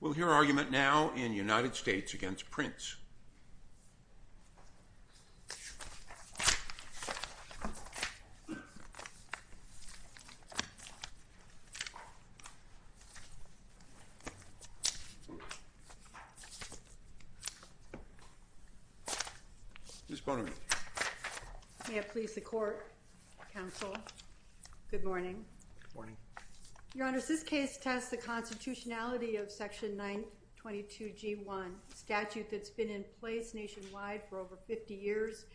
We'll hear argument now in United States v. Prince. May it please the Court, Counsel. Good morning. Your Honor, this case tests the constitutionality of Section 922G1, a statute that's been in place nationwide for over 50 years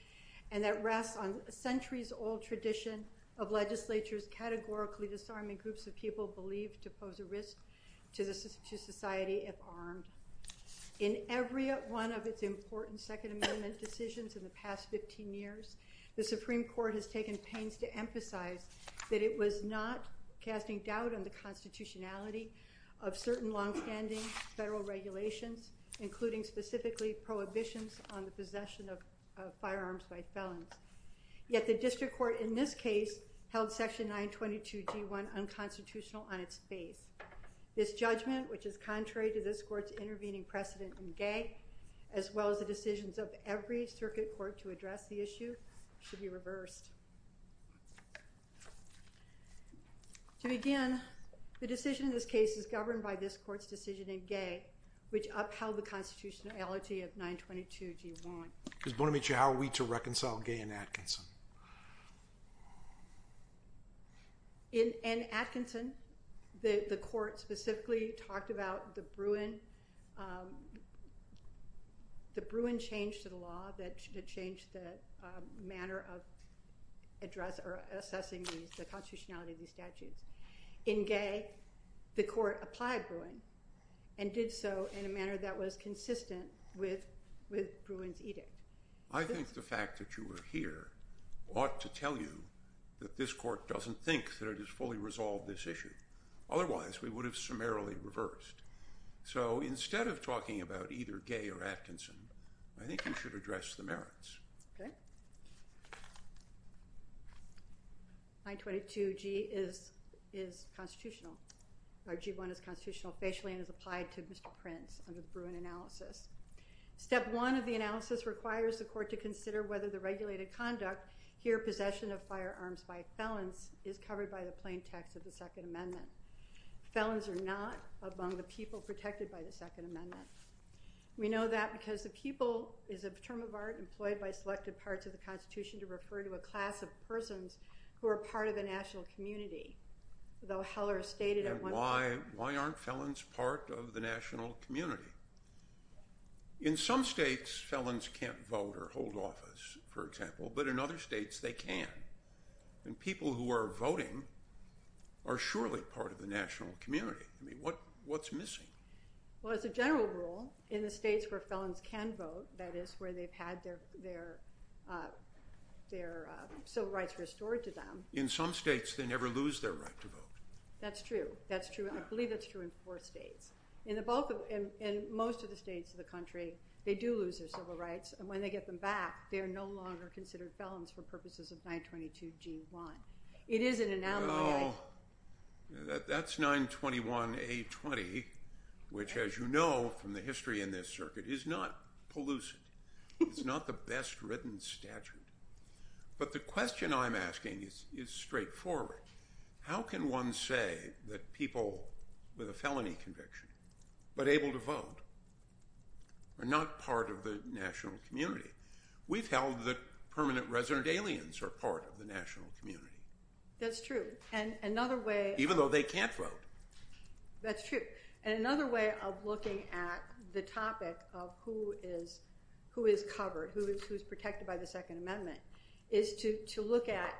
and that rests on centuries-old tradition of legislatures categorically disarming groups of people believed to pose a risk to society if armed. In every one of its important Second Amendment decisions in the past 15 years, the Supreme Court has taken pains to emphasize that it was not casting doubt on the constitutionality of certain long-standing federal regulations, including specifically prohibitions on the possession of firearms by felons. Yet the District Court in this case held Section 922G1 unconstitutional on its face. This judgment, which is contrary to this Court's intervening precedent in Gay, as well as the decisions of every circuit court to address the issue, should be reversed. To begin, the decision in this case is governed by this Court's decision in Gay, which upheld the constitutionality of 922G1. How are we to reconcile Gay and Atkinson? In Atkinson, the Court specifically talked about the Bruin change to the law that changed the manner of assessing the constitutionality of these statutes. In Gay, the Court applied Bruin and did so in a manner that was consistent with Bruin's edict. I think the fact that you are here ought to tell you that this Court doesn't think that it has fully resolved this issue. Otherwise, we would have summarily reversed. So instead of talking about either Gay or Atkinson, I think you should address the merits. 922G1 is constitutional facially and is applied to Mr. Prince under the Bruin analysis. Step 1 of the analysis requires the Court to consider whether the regulated conduct here, possession of firearms by felons, is covered by the plain text of the Second Amendment. Felons are not among the people protected by the Second Amendment. We know that because the people is a term of art employed by selected parts of the Constitution to refer to a class of persons who are part of the national community. Why aren't felons part of the national community? In some states, felons can't vote or hold office, for example, but in other states, they can. People who are voting are surely part of the national community. What's missing? Well, as a general rule, in the states where felons can vote, that is, where they've had their civil rights restored to them. In some states, they never lose their right to vote. That's true. I believe that's true in four states. In most of the states of the country, they do lose their civil rights, and when they get them back, they're no longer considered felons for purposes of 922G1. It is an anomaly. That's 921A20, which, as you know from the history in this circuit, is not pellucid. It's not the best-written statute. But the question I'm asking is straightforward. How can one say that people with a felony conviction but able to vote are not part of the national community? We've held that permanent resident aliens are part of the national community. That's true. And another way— Even though they can't vote. That's true. And another way of looking at the topic of who is covered, who is protected by the Second Amendment, is to look at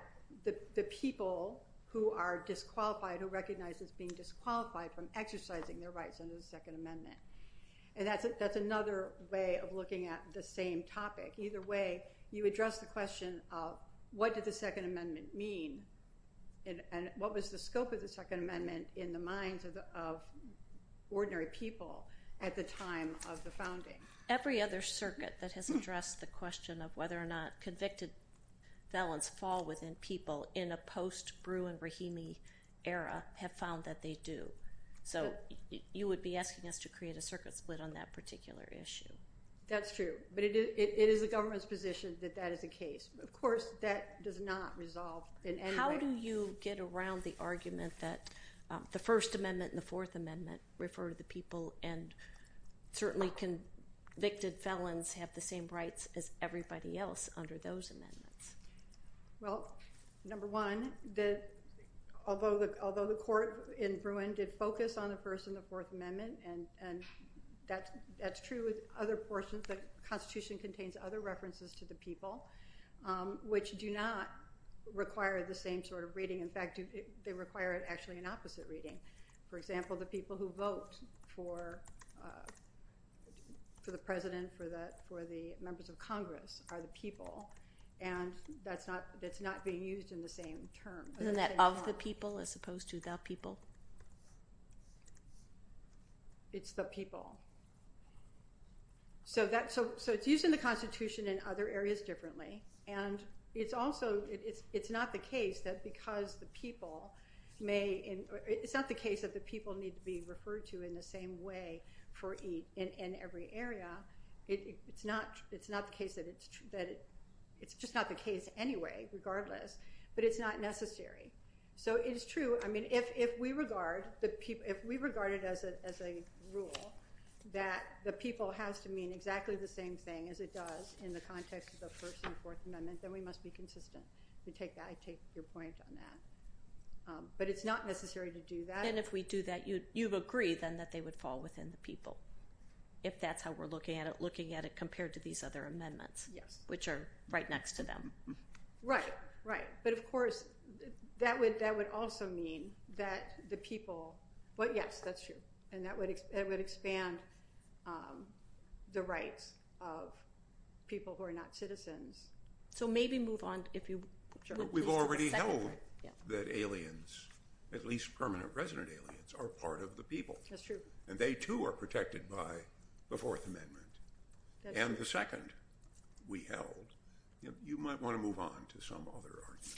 the people who are disqualified, who are recognized as being disqualified from exercising their rights under the Second Amendment. And that's another way of looking at the same topic. Either way, you address the question of what did the Second Amendment mean, and what was the scope of the Second Amendment in the minds of ordinary people at the time of the founding? Every other circuit that has addressed the question of whether or not convicted felons fall within people in a post-Bruin-Rahimi era have found that they do. So you would be asking us to create a circuit split on that particular issue. That's true. But it is the government's position that that is the case. Of course, that does not resolve in any way. How do you get around the argument that the First Amendment and the Fourth Amendment refer to the people, and certainly convicted felons have the same rights as everybody else under those amendments? Well, number one, although the court in Bruin did focus on the First and the Fourth Amendment, and that's true with other portions, the Constitution contains other references to the people, which do not require the same sort of reading. In fact, they require actually an opposite reading. For example, the people who vote for the president, for the members of Congress are the people, and that's not being used in the same term. Isn't that of the people as opposed to the people? It's the people. So it's used in the Constitution in other areas differently, and it's not the case that the people need to be referred to in the same way in every area. It's just not the case anyway, regardless, but it's not necessary. So it is true. I mean, if we regard it as a rule that the people has to mean exactly the same thing as it does in the context of the First and Fourth Amendment, then we must be consistent. I take your point on that. But it's not necessary to do that. And if we do that, you would agree then that they would fall within the people, if that's how we're looking at it, looking at it compared to these other amendments, which are right next to them. Right, right. But of course, that would also mean that the people – well, yes, that's true, and that would expand the rights of people who are not citizens. So maybe move on if you – But we've already held that aliens, at least permanent resident aliens, are part of the people. That's true. And they too are protected by the Fourth Amendment. And the second we held – you might want to move on to some other argument.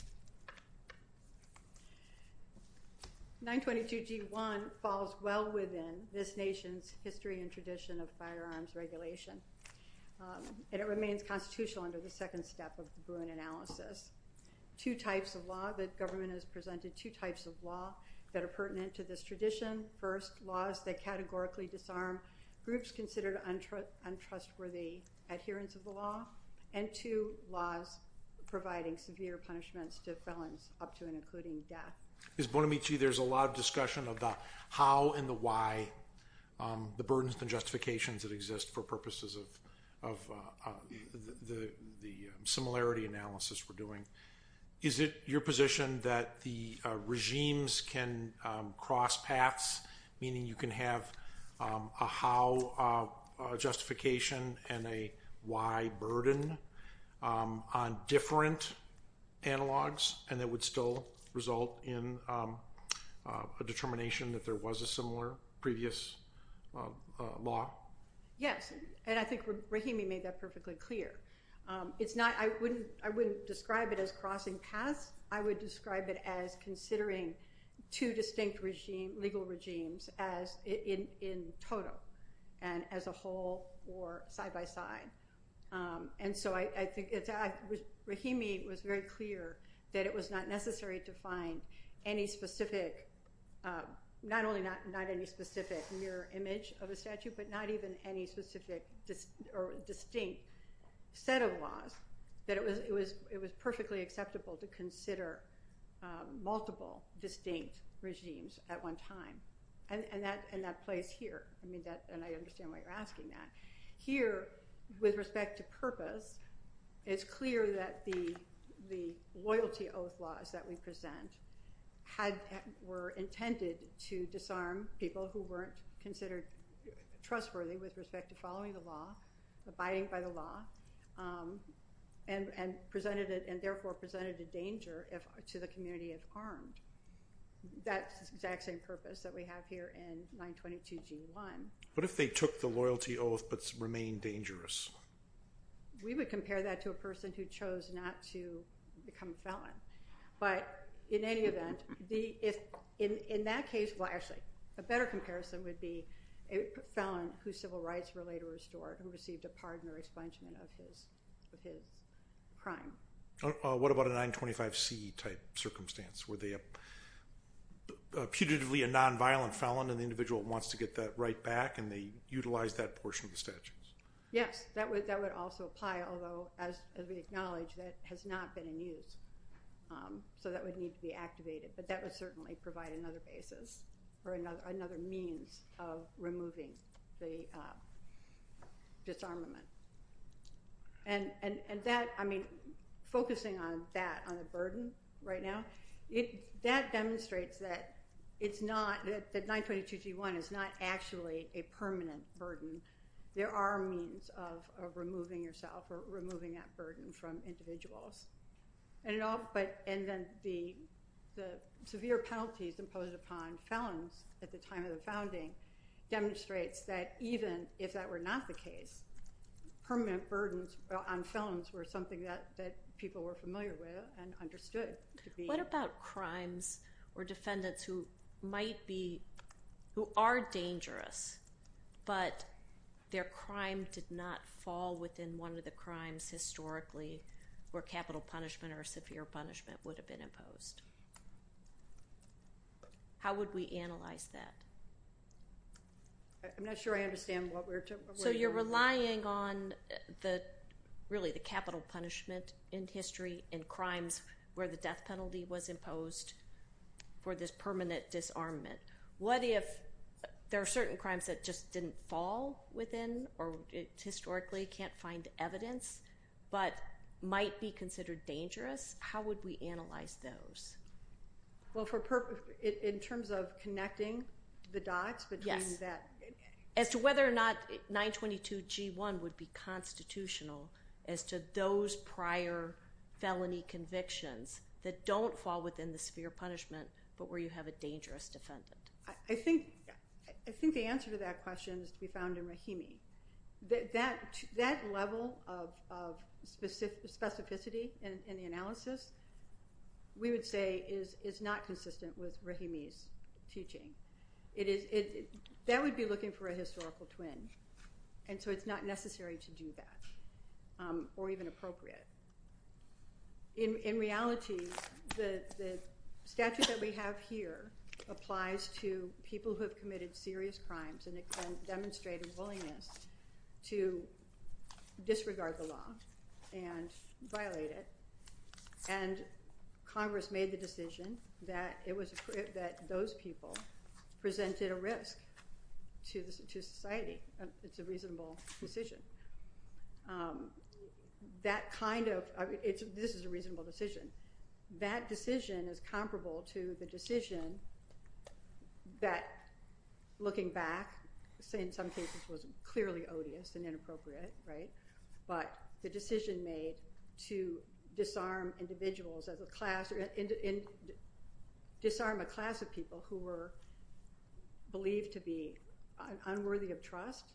922G1 falls well within this nation's history and tradition of firearms regulation, and it remains constitutional under the second step of the Boone analysis. Two types of law – the government has presented two types of law that are pertinent to this tradition. First, laws that categorically disarm groups considered untrustworthy adherence of the law. And two, laws providing severe punishments to felons up to and including death. Ms. Bonamici, there's a lot of discussion about how and the why, the burdens and justifications that exist for purposes of the similarity analysis we're doing. Is it your position that the regimes can cross paths, meaning you can have a how justification and a why burden on different analogs, and that would still result in a determination that there was a similar previous law? Yes, and I think Rahimi made that perfectly clear. I wouldn't describe it as crossing paths. I would describe it as considering two distinct legal regimes in total and as a whole or side by side. And so I think Rahimi was very clear that it was not necessary to find any specific – not only not any specific mirror image of a statute, but not even any specific or distinct set of laws, that it was perfectly acceptable to consider multiple distinct regimes at one time. And that plays here, and I understand why you're asking that. Here, with respect to purpose, it's clear that the loyalty oath laws that we present were intended to disarm people who weren't considered trustworthy with respect to following the law, abiding by the law, and therefore presented a danger to the community if armed. That's the exact same purpose that we have here in 922G1. What if they took the loyalty oath but remained dangerous? We would compare that to a person who chose not to become a felon. But in any event, in that case – well, actually, a better comparison would be a felon whose civil rights were later restored, who received a pardon or expungement of his crime. What about a 925C-type circumstance? Were they putatively a nonviolent felon, and the individual wants to get that right back, and they utilize that portion of the statutes? Yes, that would also apply, although, as we acknowledge, that has not been in use. So that would need to be activated, but that would certainly provide another basis or another means of removing the disarmament. And that – I mean, focusing on that, on the burden right now, that demonstrates that it's not – that 922G1 is not actually a permanent burden. There are means of removing yourself or removing that burden from individuals. And then the severe penalties imposed upon felons at the time of the founding demonstrates that even if that were not the case, permanent burdens on felons were something that people were familiar with and understood to be. What about crimes or defendants who might be – who are dangerous, but their crime did not fall within one of the crimes historically where capital punishment or severe punishment would have been imposed? How would we analyze that? I'm not sure I understand what we're talking about. So you're relying on the – really, the capital punishment in history and crimes where the death penalty was imposed for this permanent disarmament. What if there are certain crimes that just didn't fall within or historically can't find evidence but might be considered dangerous? How would we analyze those? Well, in terms of connecting the dots between that. Yes, as to whether or not 922G1 would be constitutional as to those prior felony convictions that don't fall within the severe punishment but where you have a dangerous defendant. I think the answer to that question is to be found in Rahimi. That level of specificity in the analysis, we would say, is not consistent with Rahimi's teaching. That would be looking for a historical twin, and so it's not necessary to do that or even appropriate. In reality, the statute that we have here applies to people who have committed serious crimes and demonstrated willingness to disregard the law and violate it, and Congress made the decision that those people presented a risk to society. It's a reasonable decision. That kind of – this is a reasonable decision. That decision is comparable to the decision that, looking back, in some cases was clearly odious and inappropriate, right? But the decision made to disarm a class of people who were believed to be unworthy of trust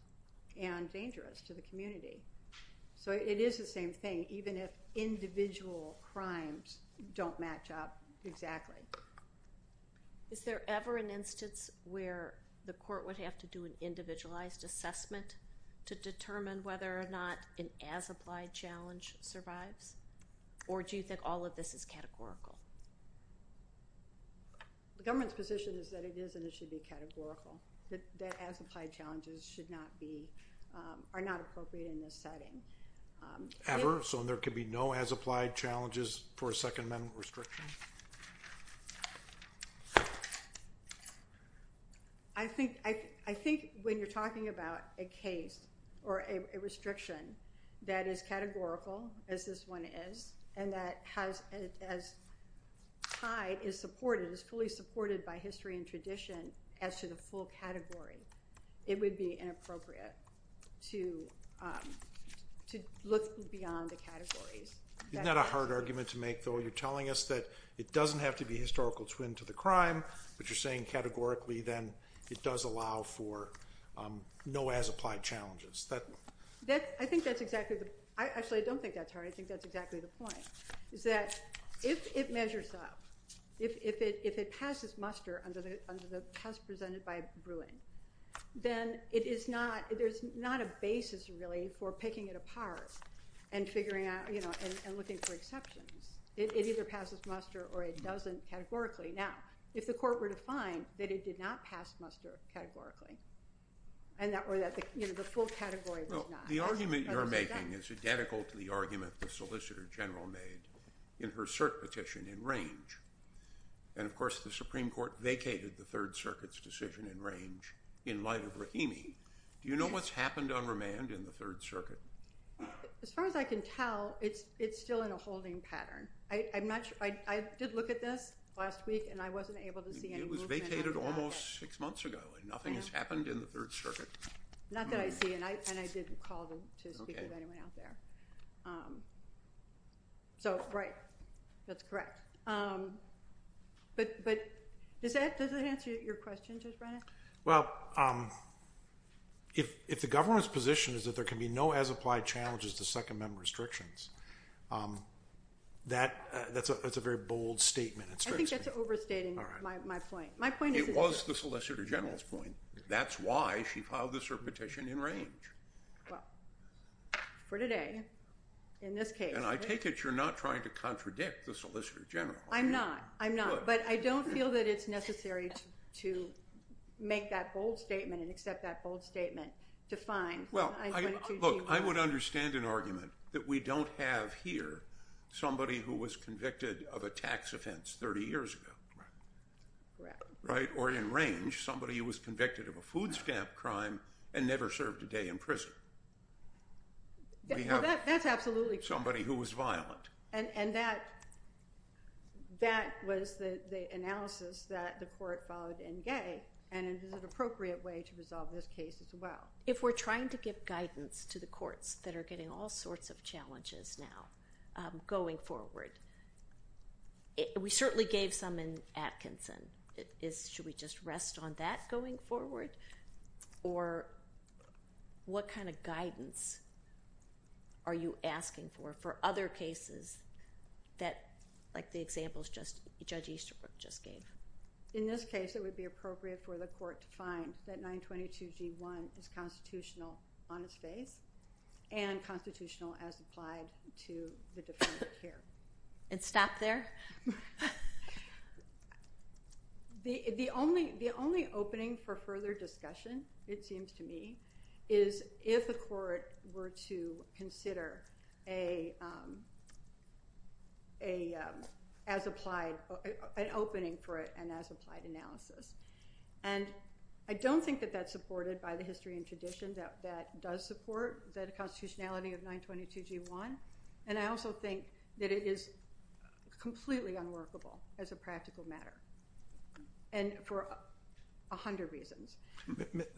and dangerous to the community. So it is the same thing, even if individual crimes don't match up exactly. Is there ever an instance where the court would have to do an individualized assessment to determine whether or not an as-applied challenge survives? Or do you think all of this is categorical? The government's position is that it is and it should be categorical, that as-applied challenges should not be – are not appropriate in this setting. Ever? So there could be no as-applied challenges for a second mental restriction? I think when you're talking about a case or a restriction that is categorical, as this one is, and that as tied is fully supported by history and tradition as to the full category, it would be inappropriate to look beyond the categories. Isn't that a hard argument to make, though? You're telling us that it doesn't have to be historical twin to the crime, but you're saying categorically then it does allow for no as-applied challenges. I think that's exactly the – actually, I don't think that's hard. I think that's exactly the point, is that if it measures up, if it passes muster under the test presented by Bruin, then it is not – there's not a basis, really, for picking it apart and figuring out – and looking for exceptions. It either passes muster or it doesn't categorically. Now, if the court were to find that it did not pass muster categorically or that the full category was not – in her cert petition in range. And, of course, the Supreme Court vacated the Third Circuit's decision in range in light of Rahimi. Do you know what's happened on remand in the Third Circuit? As far as I can tell, it's still in a holding pattern. I did look at this last week, and I wasn't able to see any movement at all. It was vacated almost six months ago, and nothing has happened in the Third Circuit. Not that I see, and I didn't call to speak with anyone out there. So, right, that's correct. But does that answer your question, Judge Brennan? Well, if the government's position is that there can be no as-applied challenges to Second Amendment restrictions, that's a very bold statement. I think that's overstating my point. It was the Solicitor General's point. That's why she filed this cert petition in range. Well, for today, in this case. And I take it you're not trying to contradict the Solicitor General. I'm not. I'm not. But I don't feel that it's necessary to make that bold statement and accept that bold statement to find – Well, look, I would understand an argument that we don't have here somebody who was convicted of a tax offense 30 years ago. Correct. Right? Or in range, somebody who was convicted of a food stamp crime and never served a day in prison. That's absolutely correct. Somebody who was violent. And that was the analysis that the court followed in Gay, and it was an appropriate way to resolve this case as well. If we're trying to give guidance to the courts that are getting all sorts of challenges now going forward, we certainly gave some in Atkinson. Should we just rest on that going forward? Or what kind of guidance are you asking for for other cases that, like the examples Judge Easterbrook just gave? In this case, it would be appropriate for the court to find that 922G1 is constitutional on its face and constitutional as applied to the defendant here. And stop there? The only opening for further discussion, it seems to me, is if the court were to consider an opening for an as-applied analysis. And I don't think that that's supported by the history and tradition. That does support the constitutionality of 922G1. And I also think that it is completely unworkable as a practical matter. And for a hundred reasons.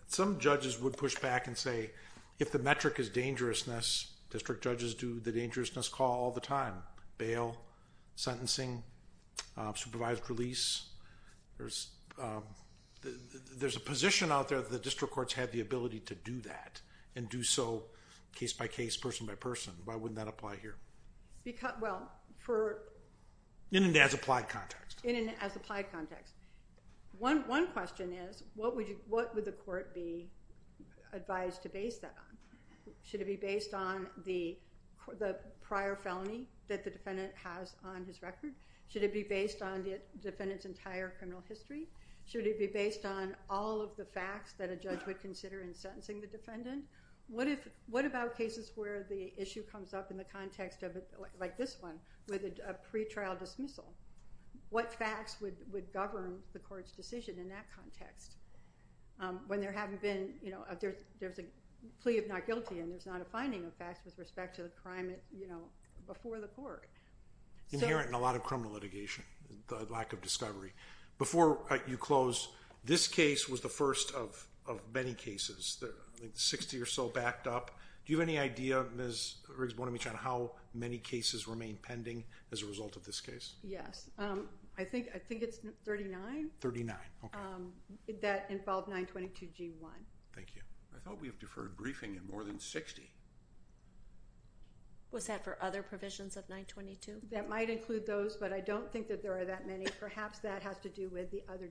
Some judges would push back and say, if the metric is dangerousness, district judges do the dangerousness call all the time. Bail, sentencing, supervised release. There's a position out there that the district courts have the ability to do that and do so case-by-case, person-by-person. Why wouldn't that apply here? In an as-applied context. In an as-applied context. One question is, what would the court be advised to base that on? Should it be based on the prior felony that the defendant has on his record? Should it be based on the defendant's entire criminal history? Should it be based on all of the facts that a judge would consider in sentencing the defendant? What about cases where the issue comes up in the context of it, like this one, with a pretrial dismissal? What facts would govern the court's decision in that context? When there hasn't been, you know, there's a plea of not guilty and there's not a finding of facts with respect to the crime, you know, before the court. Inherent in a lot of criminal litigation, the lack of discovery. Before you close, this case was the first of many cases. I think 60 or so backed up. Do you have any idea, Ms. Riggs-Bonamiche, on how many cases remain pending as a result of this case? Yes. I think it's 39. 39, okay. That involved 922 G1. Thank you. I thought we had deferred briefing in more than 60. Was that for other provisions of 922? That might include those, but I don't think that there are that many. Perhaps that has to do with the other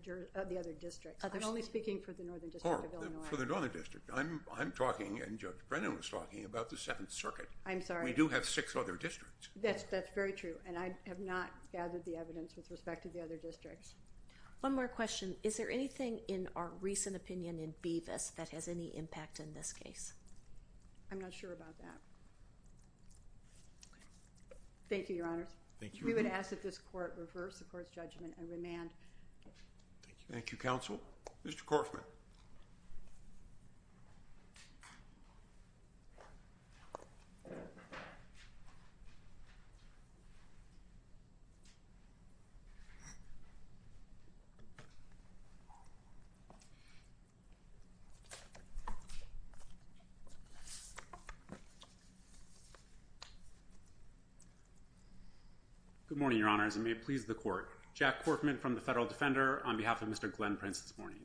districts. I'm only speaking for the Northern District of Illinois. For the Northern District. I'm talking, and Judge Brennan was talking about the Seventh Circuit. I'm sorry. We do have six other districts. That's very true, and I have not gathered the evidence with respect to the other districts. One more question. Is there anything in our recent opinion in Bevis that has any impact in this case? I'm not sure about that. Thank you, Your Honors. Thank you. We would ask that this Court reverse the Court's judgment and remand. Thank you. Thank you, Counsel. Mr. Korfman. Good morning, Your Honors, and may it please the Court. Jack Korfman from the Federal Defender on behalf of Mr. Glenn Prince this morning.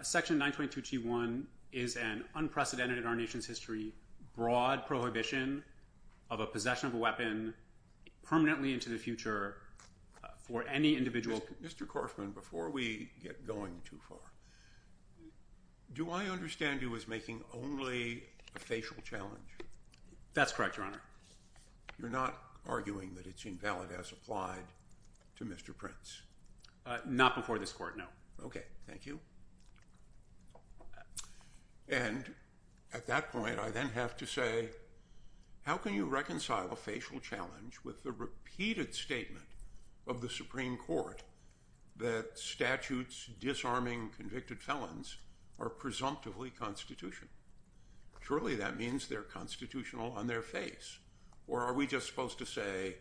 Section 922G1 is an unprecedented in our nation's history, broad prohibition of a possession of a weapon permanently into the future for any individual. Mr. Korfman, before we get going too far, do I understand you as making only a facial challenge? That's correct, Your Honor. You're not arguing that it's invalid as applied to Mr. Prince? Not before this Court, no. Okay, thank you. And at that point, I then have to say, how can you reconcile a facial challenge with the repeated statement of the Supreme Court that statutes disarming convicted felons are presumptively constitutional? Surely that means they're constitutional on their face, or are we just supposed to say,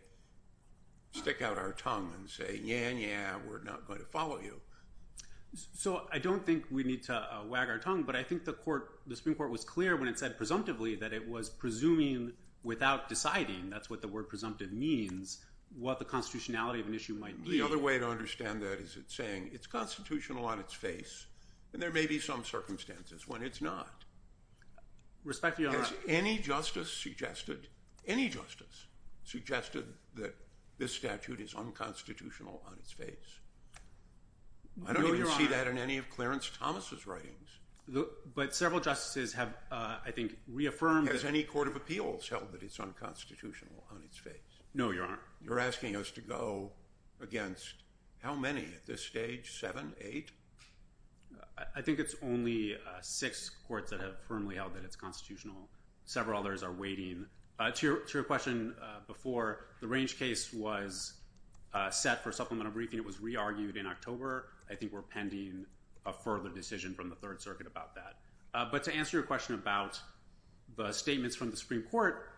stick out our tongue and say, yeah, yeah, we're not going to follow you. So I don't think we need to wag our tongue, but I think the Supreme Court was clear when it said presumptively that it was presuming without deciding, that's what the word presumptive means, what the constitutionality of an issue might be. The other way to understand that is it's saying it's constitutional on its face, and there may be some circumstances when it's not. Respectfully, Your Honor. Has any justice suggested that this statute is unconstitutional on its face? No, Your Honor. I don't even see that in any of Clarence Thomas' writings. But several justices have, I think, reaffirmed that. Has any court of appeals held that it's unconstitutional on its face? No, Your Honor. You're asking us to go against how many at this stage, seven, eight? I think it's only six courts that have firmly held that it's constitutional. Several others are waiting. To your question before, the range case was set for supplemental briefing. It was re-argued in October. I think we're pending a further decision from the Third Circuit about that. But to answer your question about the statements from the Supreme Court,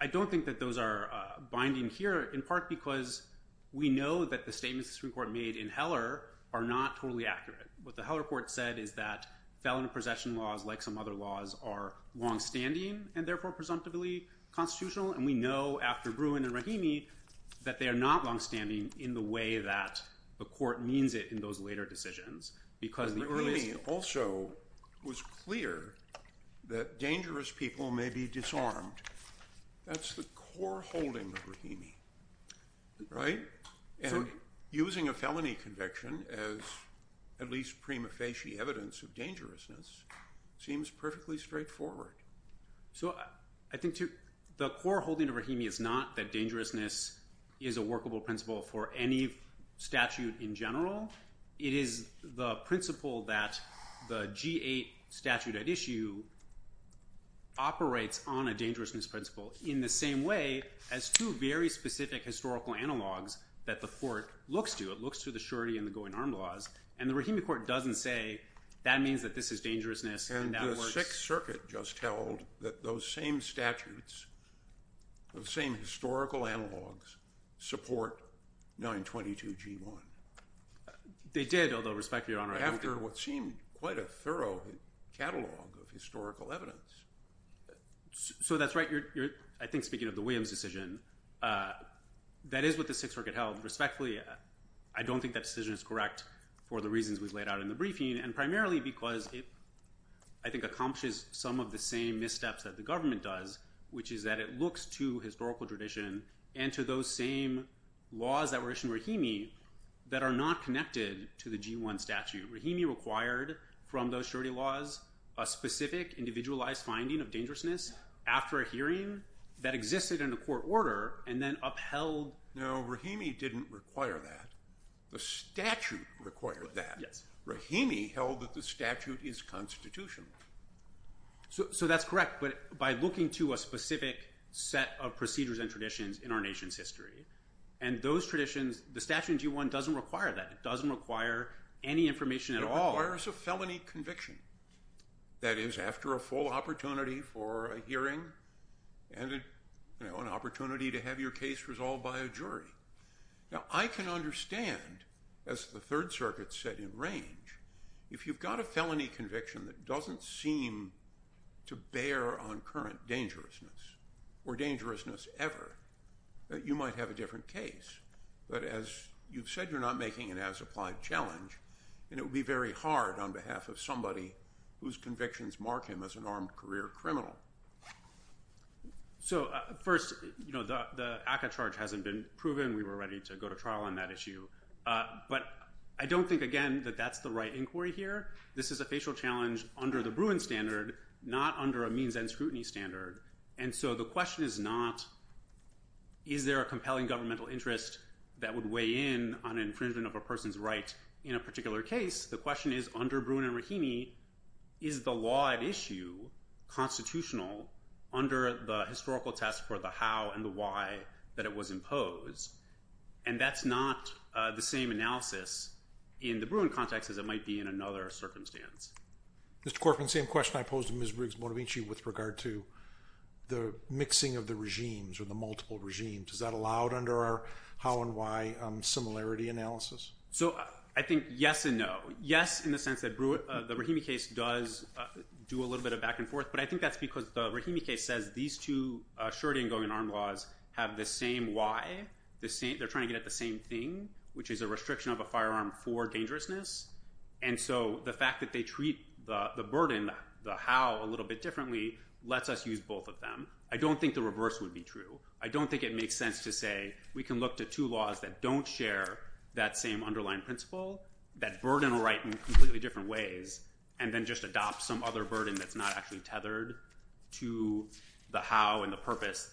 I don't think that those are binding here, in part because we know that the statements the Supreme Court made in Heller are not totally accurate. What the Heller court said is that felon and possession laws, like some other laws, are longstanding and therefore presumptively constitutional. And we know after Bruin and Rahimi that they are not longstanding in the way that the court means it in those later decisions. Rahimi also was clear that dangerous people may be disarmed. That's the core holding of Rahimi, right? And using a felony conviction as at least prima facie evidence of dangerousness seems perfectly straightforward. So I think the core holding of Rahimi is not that dangerousness is a workable principle for any statute in general. It is the principle that the G-8 statute at issue operates on a dangerousness principle in the same way as two very specific historical analogs that the court looks to. It looks to the surety and the going arm laws. And the Rahimi court doesn't say that means that this is dangerousness. And the Sixth Circuit just held that those same statutes, those same historical analogs, support 922 G-1. They did, although, respectfully, Your Honor, I don't think... After what seemed quite a thorough catalog of historical evidence. So that's right. I think speaking of the Williams decision, that is what the Sixth Circuit held. Respectfully, I don't think that decision is correct for the reasons we've laid out in the briefing and primarily because it, I think, accomplishes some of the same missteps that the government does, which is that it looks to historical tradition and to those same laws that were issued in Rahimi that are not connected to the G-1 statute. Rahimi required from those surety laws a specific individualized finding of dangerousness after a hearing that existed in a court order and then upheld... No, Rahimi didn't require that. The statute required that. Rahimi held that the statute is constitutional. So that's correct, but by looking to a specific set of procedures and traditions in our nation's history. And those traditions... The statute in G-1 doesn't require that. It doesn't require any information at all. It requires a felony conviction. That is, after a full opportunity for a hearing and an opportunity to have your case resolved by a jury. Now, I can understand, as the Third Circuit said in range, if you've got a felony conviction that doesn't seem to bear on current dangerousness or dangerousness ever, you might have a different case. But as you've said, you're not making an as-applied challenge, and it would be very hard on behalf of somebody whose convictions mark him as an armed career criminal. So, first, the ACCA charge hasn't been proven. We were ready to go to trial on that issue. But I don't think, again, that that's the right inquiry here. This is a facial challenge under the Bruin standard, not under a means-end scrutiny standard. And so the question is not, is there a compelling governmental interest that would weigh in on infringement of a person's right in a particular case? The question is, under Bruin and Rahimi, is the law at issue constitutional under the historical test for the how and the why that it was imposed? And that's not the same analysis in the Bruin context as it might be in another circumstance. Mr. Corcoran, same question I posed to Ms. Briggs-Motovici with regard to the mixing of the regimes or the multiple regimes. Is that allowed under our how and why similarity analysis? So I think yes and no. Yes, in the sense that the Rahimi case does do a little bit of back and forth, but I think that's because the Rahimi case says these two surety and going-to-arm laws have the same why, they're trying to get at the same thing, which is a restriction of a firearm for dangerousness. And so the fact that they treat the burden, the how a little bit differently, lets us use both of them. I don't think the reverse would be true. I don't think it makes sense to say we can look to two laws that don't share that same underlying principle, that burden will write in completely different ways, and then just adopt some other burden that's not actually tethered to the how and the purpose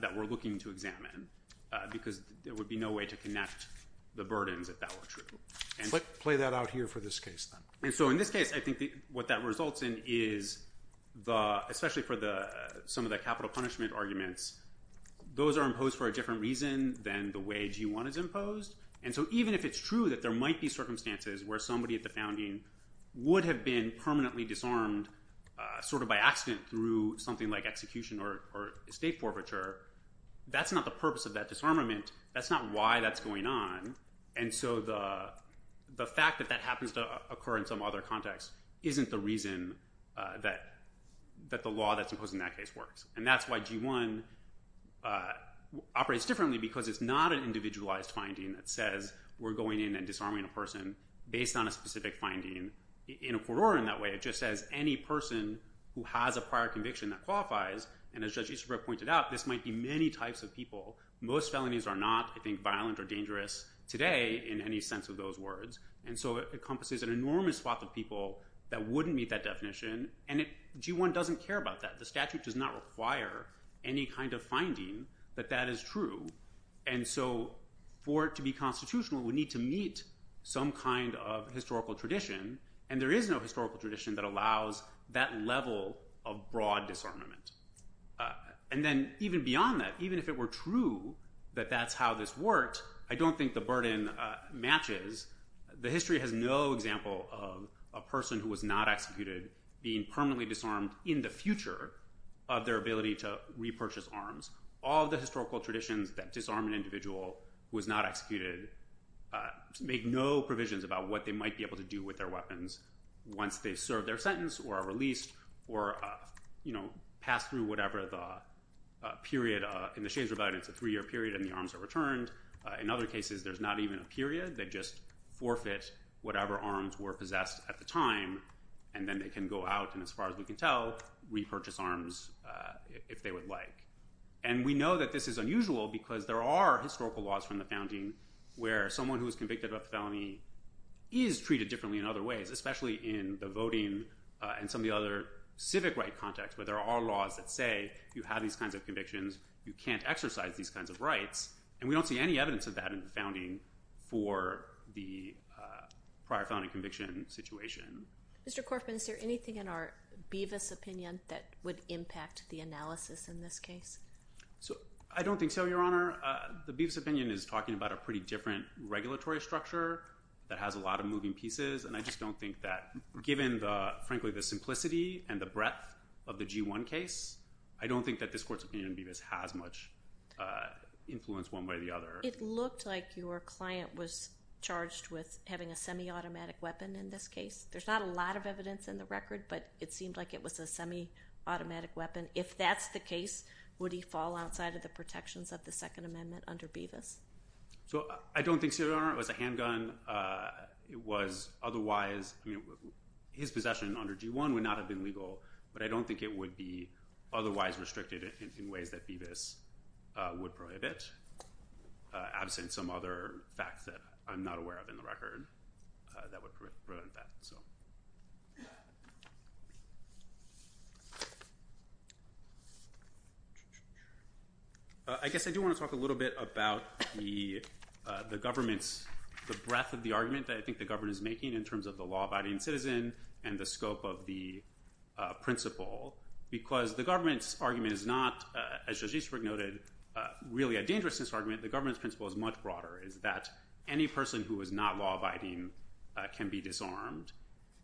that we're looking to examine, because there would be no way to connect the burdens if that were true. Play that out here for this case, then. And so in this case, I think what that results in is, especially for some of the capital punishment arguments, those are imposed for a different reason than the way G1 is imposed, and so even if it's true that there might be circumstances where somebody at the founding would have been permanently disarmed sort of by accident through something like execution or estate forfeiture, that's not the purpose of that disarmament, that's not why that's going on, and so the fact that that happens to occur in some other context isn't the reason that the law that's imposed in that case works, and that's why G1 operates differently, because it's not an individualized finding that says we're going in and disarming a person based on a specific finding. In Ecuador, in that way, it just says any person who has a prior conviction that qualifies, and as Judge Isabro pointed out, this might be many types of people. Most felonies are not, I think, violent or dangerous today in any sense of those words, and so it encompasses an enormous swath of people that wouldn't meet that definition, and G1 doesn't care about that. The statute does not require any kind of finding that that is true, and so for it to be constitutional, we need to meet some kind of historical tradition, and there is no historical tradition that allows that level of broad disarmament, and then even beyond that, even if it were true that that's how this worked, I don't think the burden matches. The history has no example of a person who was not executed being permanently disarmed in the future of their ability to repurchase arms. All the historical traditions that disarm an individual who was not executed make no provisions about what they might be able to do with their weapons once they serve their sentence or are released or, you know, pass through whatever the period... In the Shades Rebellion, it's a three-year period, and the arms are returned. In other cases, there's not even a period. They just forfeit whatever arms were possessed at the time, and then they can go out, and as far as we can tell, repurchase arms if they would like, and we know that this is unusual because there are historical laws from the founding where someone who was convicted of a felony is treated differently in other ways, especially in the voting and some of the other civic right contexts where there are laws that say you have these kinds of convictions, you can't exercise these kinds of rights, and we don't see any evidence of that in the founding for the prior felony conviction situation. Mr. Corfman, is there anything in our Beavis opinion that would impact the analysis in this case? I don't think so, Your Honor. The Beavis opinion is talking about a pretty different regulatory structure that has a lot of moving pieces, and I just don't think that, given, frankly, the simplicity and the breadth of the G1 case, I don't think that this court's opinion in Beavis has much influence one way or the other. It looked like your client was charged with having a semi-automatic weapon in this case. There's not a lot of evidence in the record, but it seemed like it was a semi-automatic weapon. If that's the case, would he fall outside of the protections of the Second Amendment under Beavis? I don't think so, Your Honor. It was a handgun. It was otherwise... I mean, his possession under G1 would not have been legal, but I don't think it would be otherwise restricted in ways that Beavis would prohibit, absent some other facts that I'm not aware of in the record that would prevent that, so... I guess I do want to talk a little bit about the government's, the breadth of the argument that I think the government is making in terms of the law-abiding citizen and the scope of the principle, because the government's argument is not, as Judge Easterbrook noted, really a dangerousness argument. The government's principle is much broader, is that any person who is not law-abiding can be disarmed.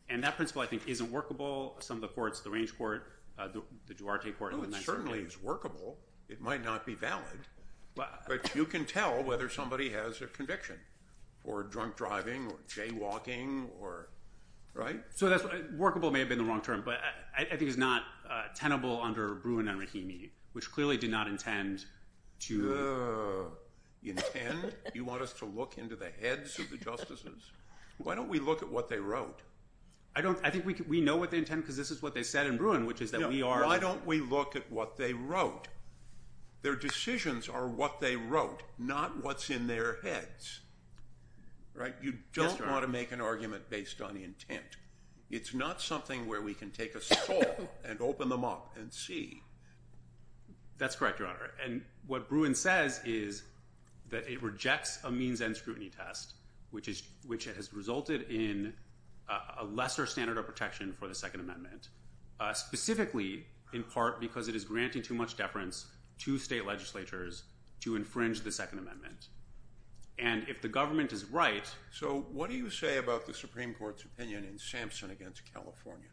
And that principle, I think, isn't workable. Some of the courts, the Range Court, the Duarte Court... Oh, it certainly is workable. It might not be valid. But you can tell whether somebody has a conviction for drunk driving or jaywalking or... So, workable may have been the wrong term, but I think it's not tenable under Bruin and Rahimi, which clearly did not intend to... Intend? You want us to look into the heads of the justices? Why don't we look at what they wrote? I think we know what they intend, because this is what they said in Bruin, which is that we are... No, why don't we look at what they wrote? Their decisions are what they wrote, not what's in their heads. Right? You don't want to make an argument based on intent. It's not something where we can take a soul and open them up and see. That's correct, Your Honour. And what Bruin says is that it rejects a means-end scrutiny test, which has resulted in a lesser standard of protection for the Second Amendment, specifically in part because it is granting too much deference to state legislatures to infringe the Second Amendment. And if the government is right... So, what do you say about the Supreme Court's opinion in Sampson against California?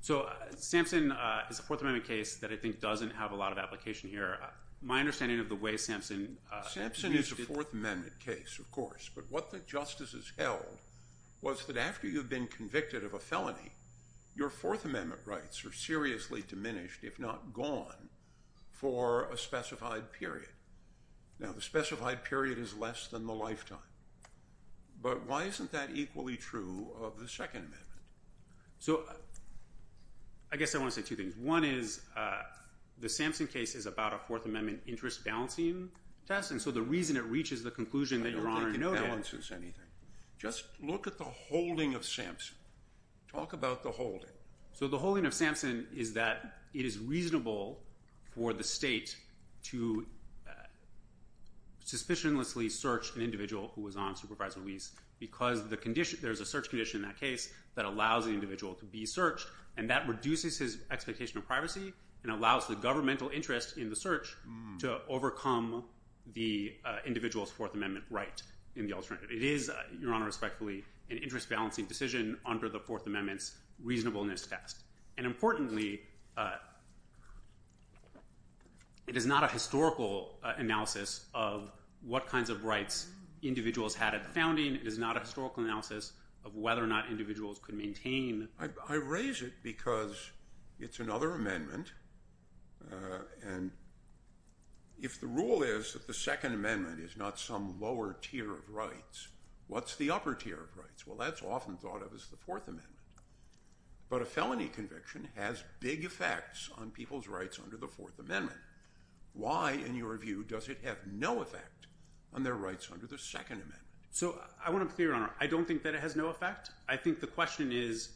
So, Sampson is a Fourth Amendment case that I think doesn't have a lot of application here. My understanding of the way Sampson... Sampson is a Fourth Amendment case, of course, but what the justices held was that after you've been convicted of a felony, your Fourth Amendment rights are seriously diminished, if not gone, for a specified period. Now, the specified period is less than the lifetime, but why isn't that equally true of the Second Amendment? So, I guess I want to say two things. One is the Sampson case is about a Fourth Amendment interest-balancing test, and so the reason it reaches the conclusion that Your Honour... I don't think it balances anything. Just look at the holding of Sampson. Talk about the holding. So, the holding of Sampson is that it is reasonable for the state to... suspicionlessly search an individual who was on supervised release, because there's a search condition in that case that allows an individual to be searched, and that reduces his expectation of privacy and allows the governmental interest in the search to overcome the individual's Fourth Amendment right in the alternative. It is, Your Honour, respectfully, an interest-balancing decision under the Fourth Amendment's reasonableness test. And importantly, it is not a historical analysis of what kinds of rights individuals had at the founding. It is not a historical analysis of whether or not individuals could maintain... I raise it because it's another amendment, and if the rule is that the Second Amendment is not some lower tier of rights, what's the upper tier of rights? Well, that's often thought of as the Fourth Amendment. But a felony conviction has big effects on people's rights under the Fourth Amendment. Why, in your view, does it have no effect on their rights under the Second Amendment? So, I want to be clear, Your Honour. I don't think that it has no effect. I think the question is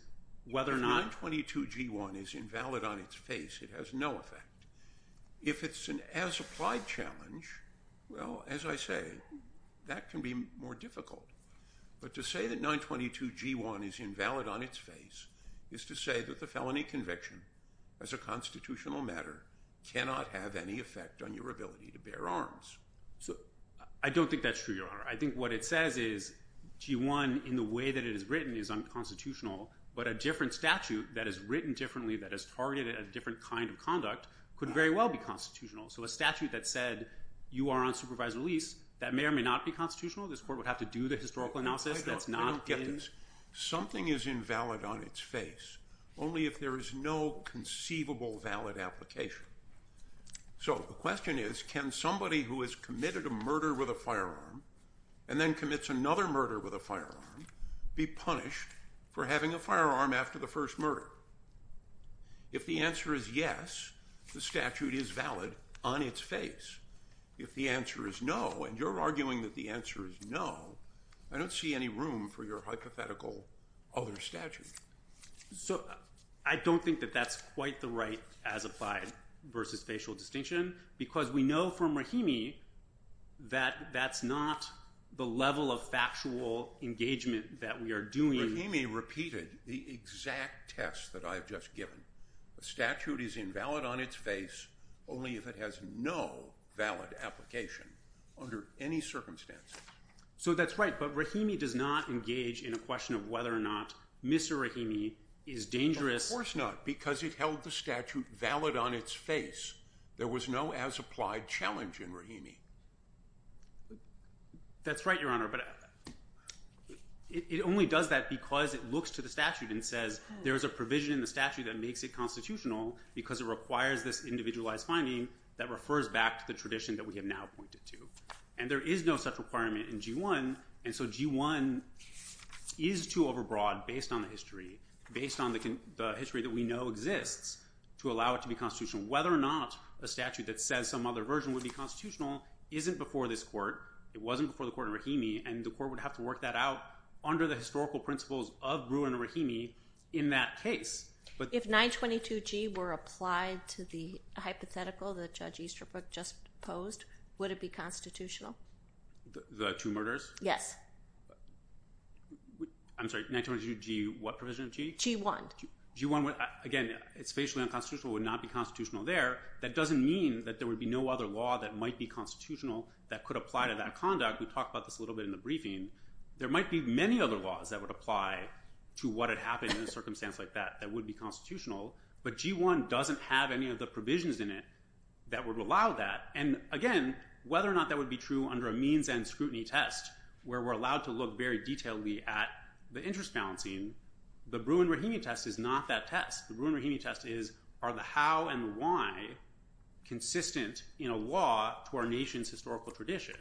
whether or not... If 922G1 is invalid on its face, it has no effect. If it's an as-applied challenge, well, as I say, that can be more difficult. But to say that 922G1 is invalid on its face is to say that the felony conviction, as a constitutional matter, cannot have any effect on your ability to bear arms. I don't think that's true, Your Honour. I think what it says is G1, in the way that it is written, is unconstitutional, but a different statute that is written differently, that has targeted a different kind of conduct, could very well be constitutional. So, a statute that said, you are on supervised release, that may or may not be constitutional. This court would have to do the historical analysis... I don't get this. Something is invalid on its face only if there is no conceivable valid application. So, the question is, can somebody who has committed a murder with a firearm and then commits another murder with a firearm be punished for having a firearm after the first murder? If the answer is yes, the statute is valid on its face. If the answer is no, and you're arguing that the answer is no, I don't see any room for your hypothetical other statute. So, I don't think that that's quite the right as-applied versus facial distinction, because we know from Rahimi that that's not the level of factual engagement that we are doing... Rahimi repeated the exact test that I have just given. The statute is invalid on its face only if it has no valid application under any circumstances. So, that's right, but Rahimi does not engage in a question of whether or not Mr. Rahimi is dangerous... Of course not, because it held the statute valid on its face. There was no as-applied challenge in Rahimi. That's right, Your Honor, but it only does that because it looks to the statute and says there is a provision in the statute that makes it constitutional because it requires this individualized finding that refers back to the tradition that we have now pointed to, and there is no such requirement in G1, and so G1 is too overbroad based on the history, based on the history that we know exists to allow it to be constitutional. Whether or not a statute that says some other version would be constitutional isn't before this court. It wasn't before the court in Rahimi, and the court would have to work that out under the historical principles of Brewer and Rahimi in that case. If 922G were applied to the hypothetical that Judge Easterbrook just posed, would it be constitutional? The two murders? Yes. I'm sorry, 922G, what provision of G? G1. G1, again, it's facially unconstitutional, would not be constitutional there. That doesn't mean that there would be no other law that might be constitutional that could apply to that conduct. We talked about this a little bit in the briefing. There might be many other laws that would apply to what had happened in a circumstance like that that would be constitutional, but G1 doesn't have any of the provisions in it that would allow that. And again, whether or not that would be true under a means and scrutiny test where we're allowed to look very detailedly at the interest balancing, the Brewer and Rahimi test is not that test. The Brewer and Rahimi test is, are the how and why consistent in a law to our nation's historical tradition?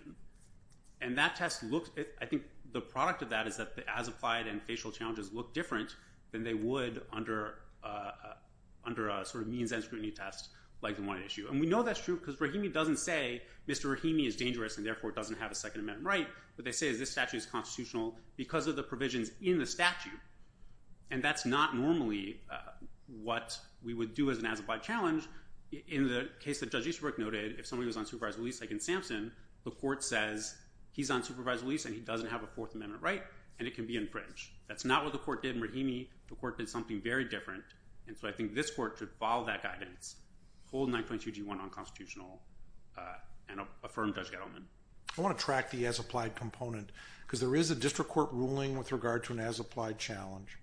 And that test looks, I think the product of that is that the as-applied and facial challenges look different than they would under a sort of means and scrutiny test like the one at issue. And we know that's true because Rahimi doesn't say, Mr. Rahimi is dangerous and therefore doesn't have a second amendment right. What they say is this statute is constitutional because of the provisions in the statute. And that's not normally what we would do as an as-applied challenge. In the case that Judge Easterbrook noted, if somebody was on supervised release like in Sampson, the court says he's on supervised release and he doesn't have a fourth amendment right and it can be infringed. That's not what the court did in Rahimi. The court did something very different. And so I think this court should follow that guidance, hold 922G1 unconstitutional and affirm Judge Gettleman. I want to track the as-applied component because there is a district court ruling with regard to an as-applied challenge.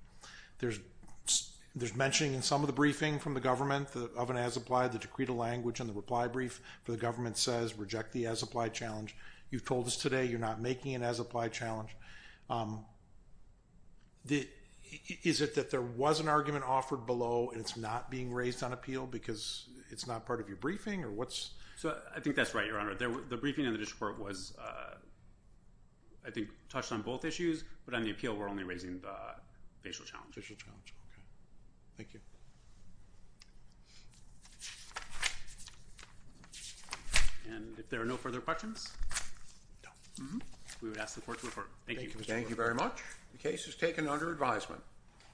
There's mentioning in some of the briefing from the government of an as-applied, the decreed language and the reply brief for the government says reject the as-applied challenge. You've told us today you're not making an as-applied challenge. Is it that there was an argument offered below and it's not being raised on appeal because it's not part of your briefing or what's... So I think that's right, Your Honor. The briefing in the district court was, I think, touched on both issues. But on the appeal, we're only raising the facial challenge. Facial challenge, okay. Thank you. And if there are no further questions, we would ask the court to report. Thank you. Thank you very much. The case is taken under advisement.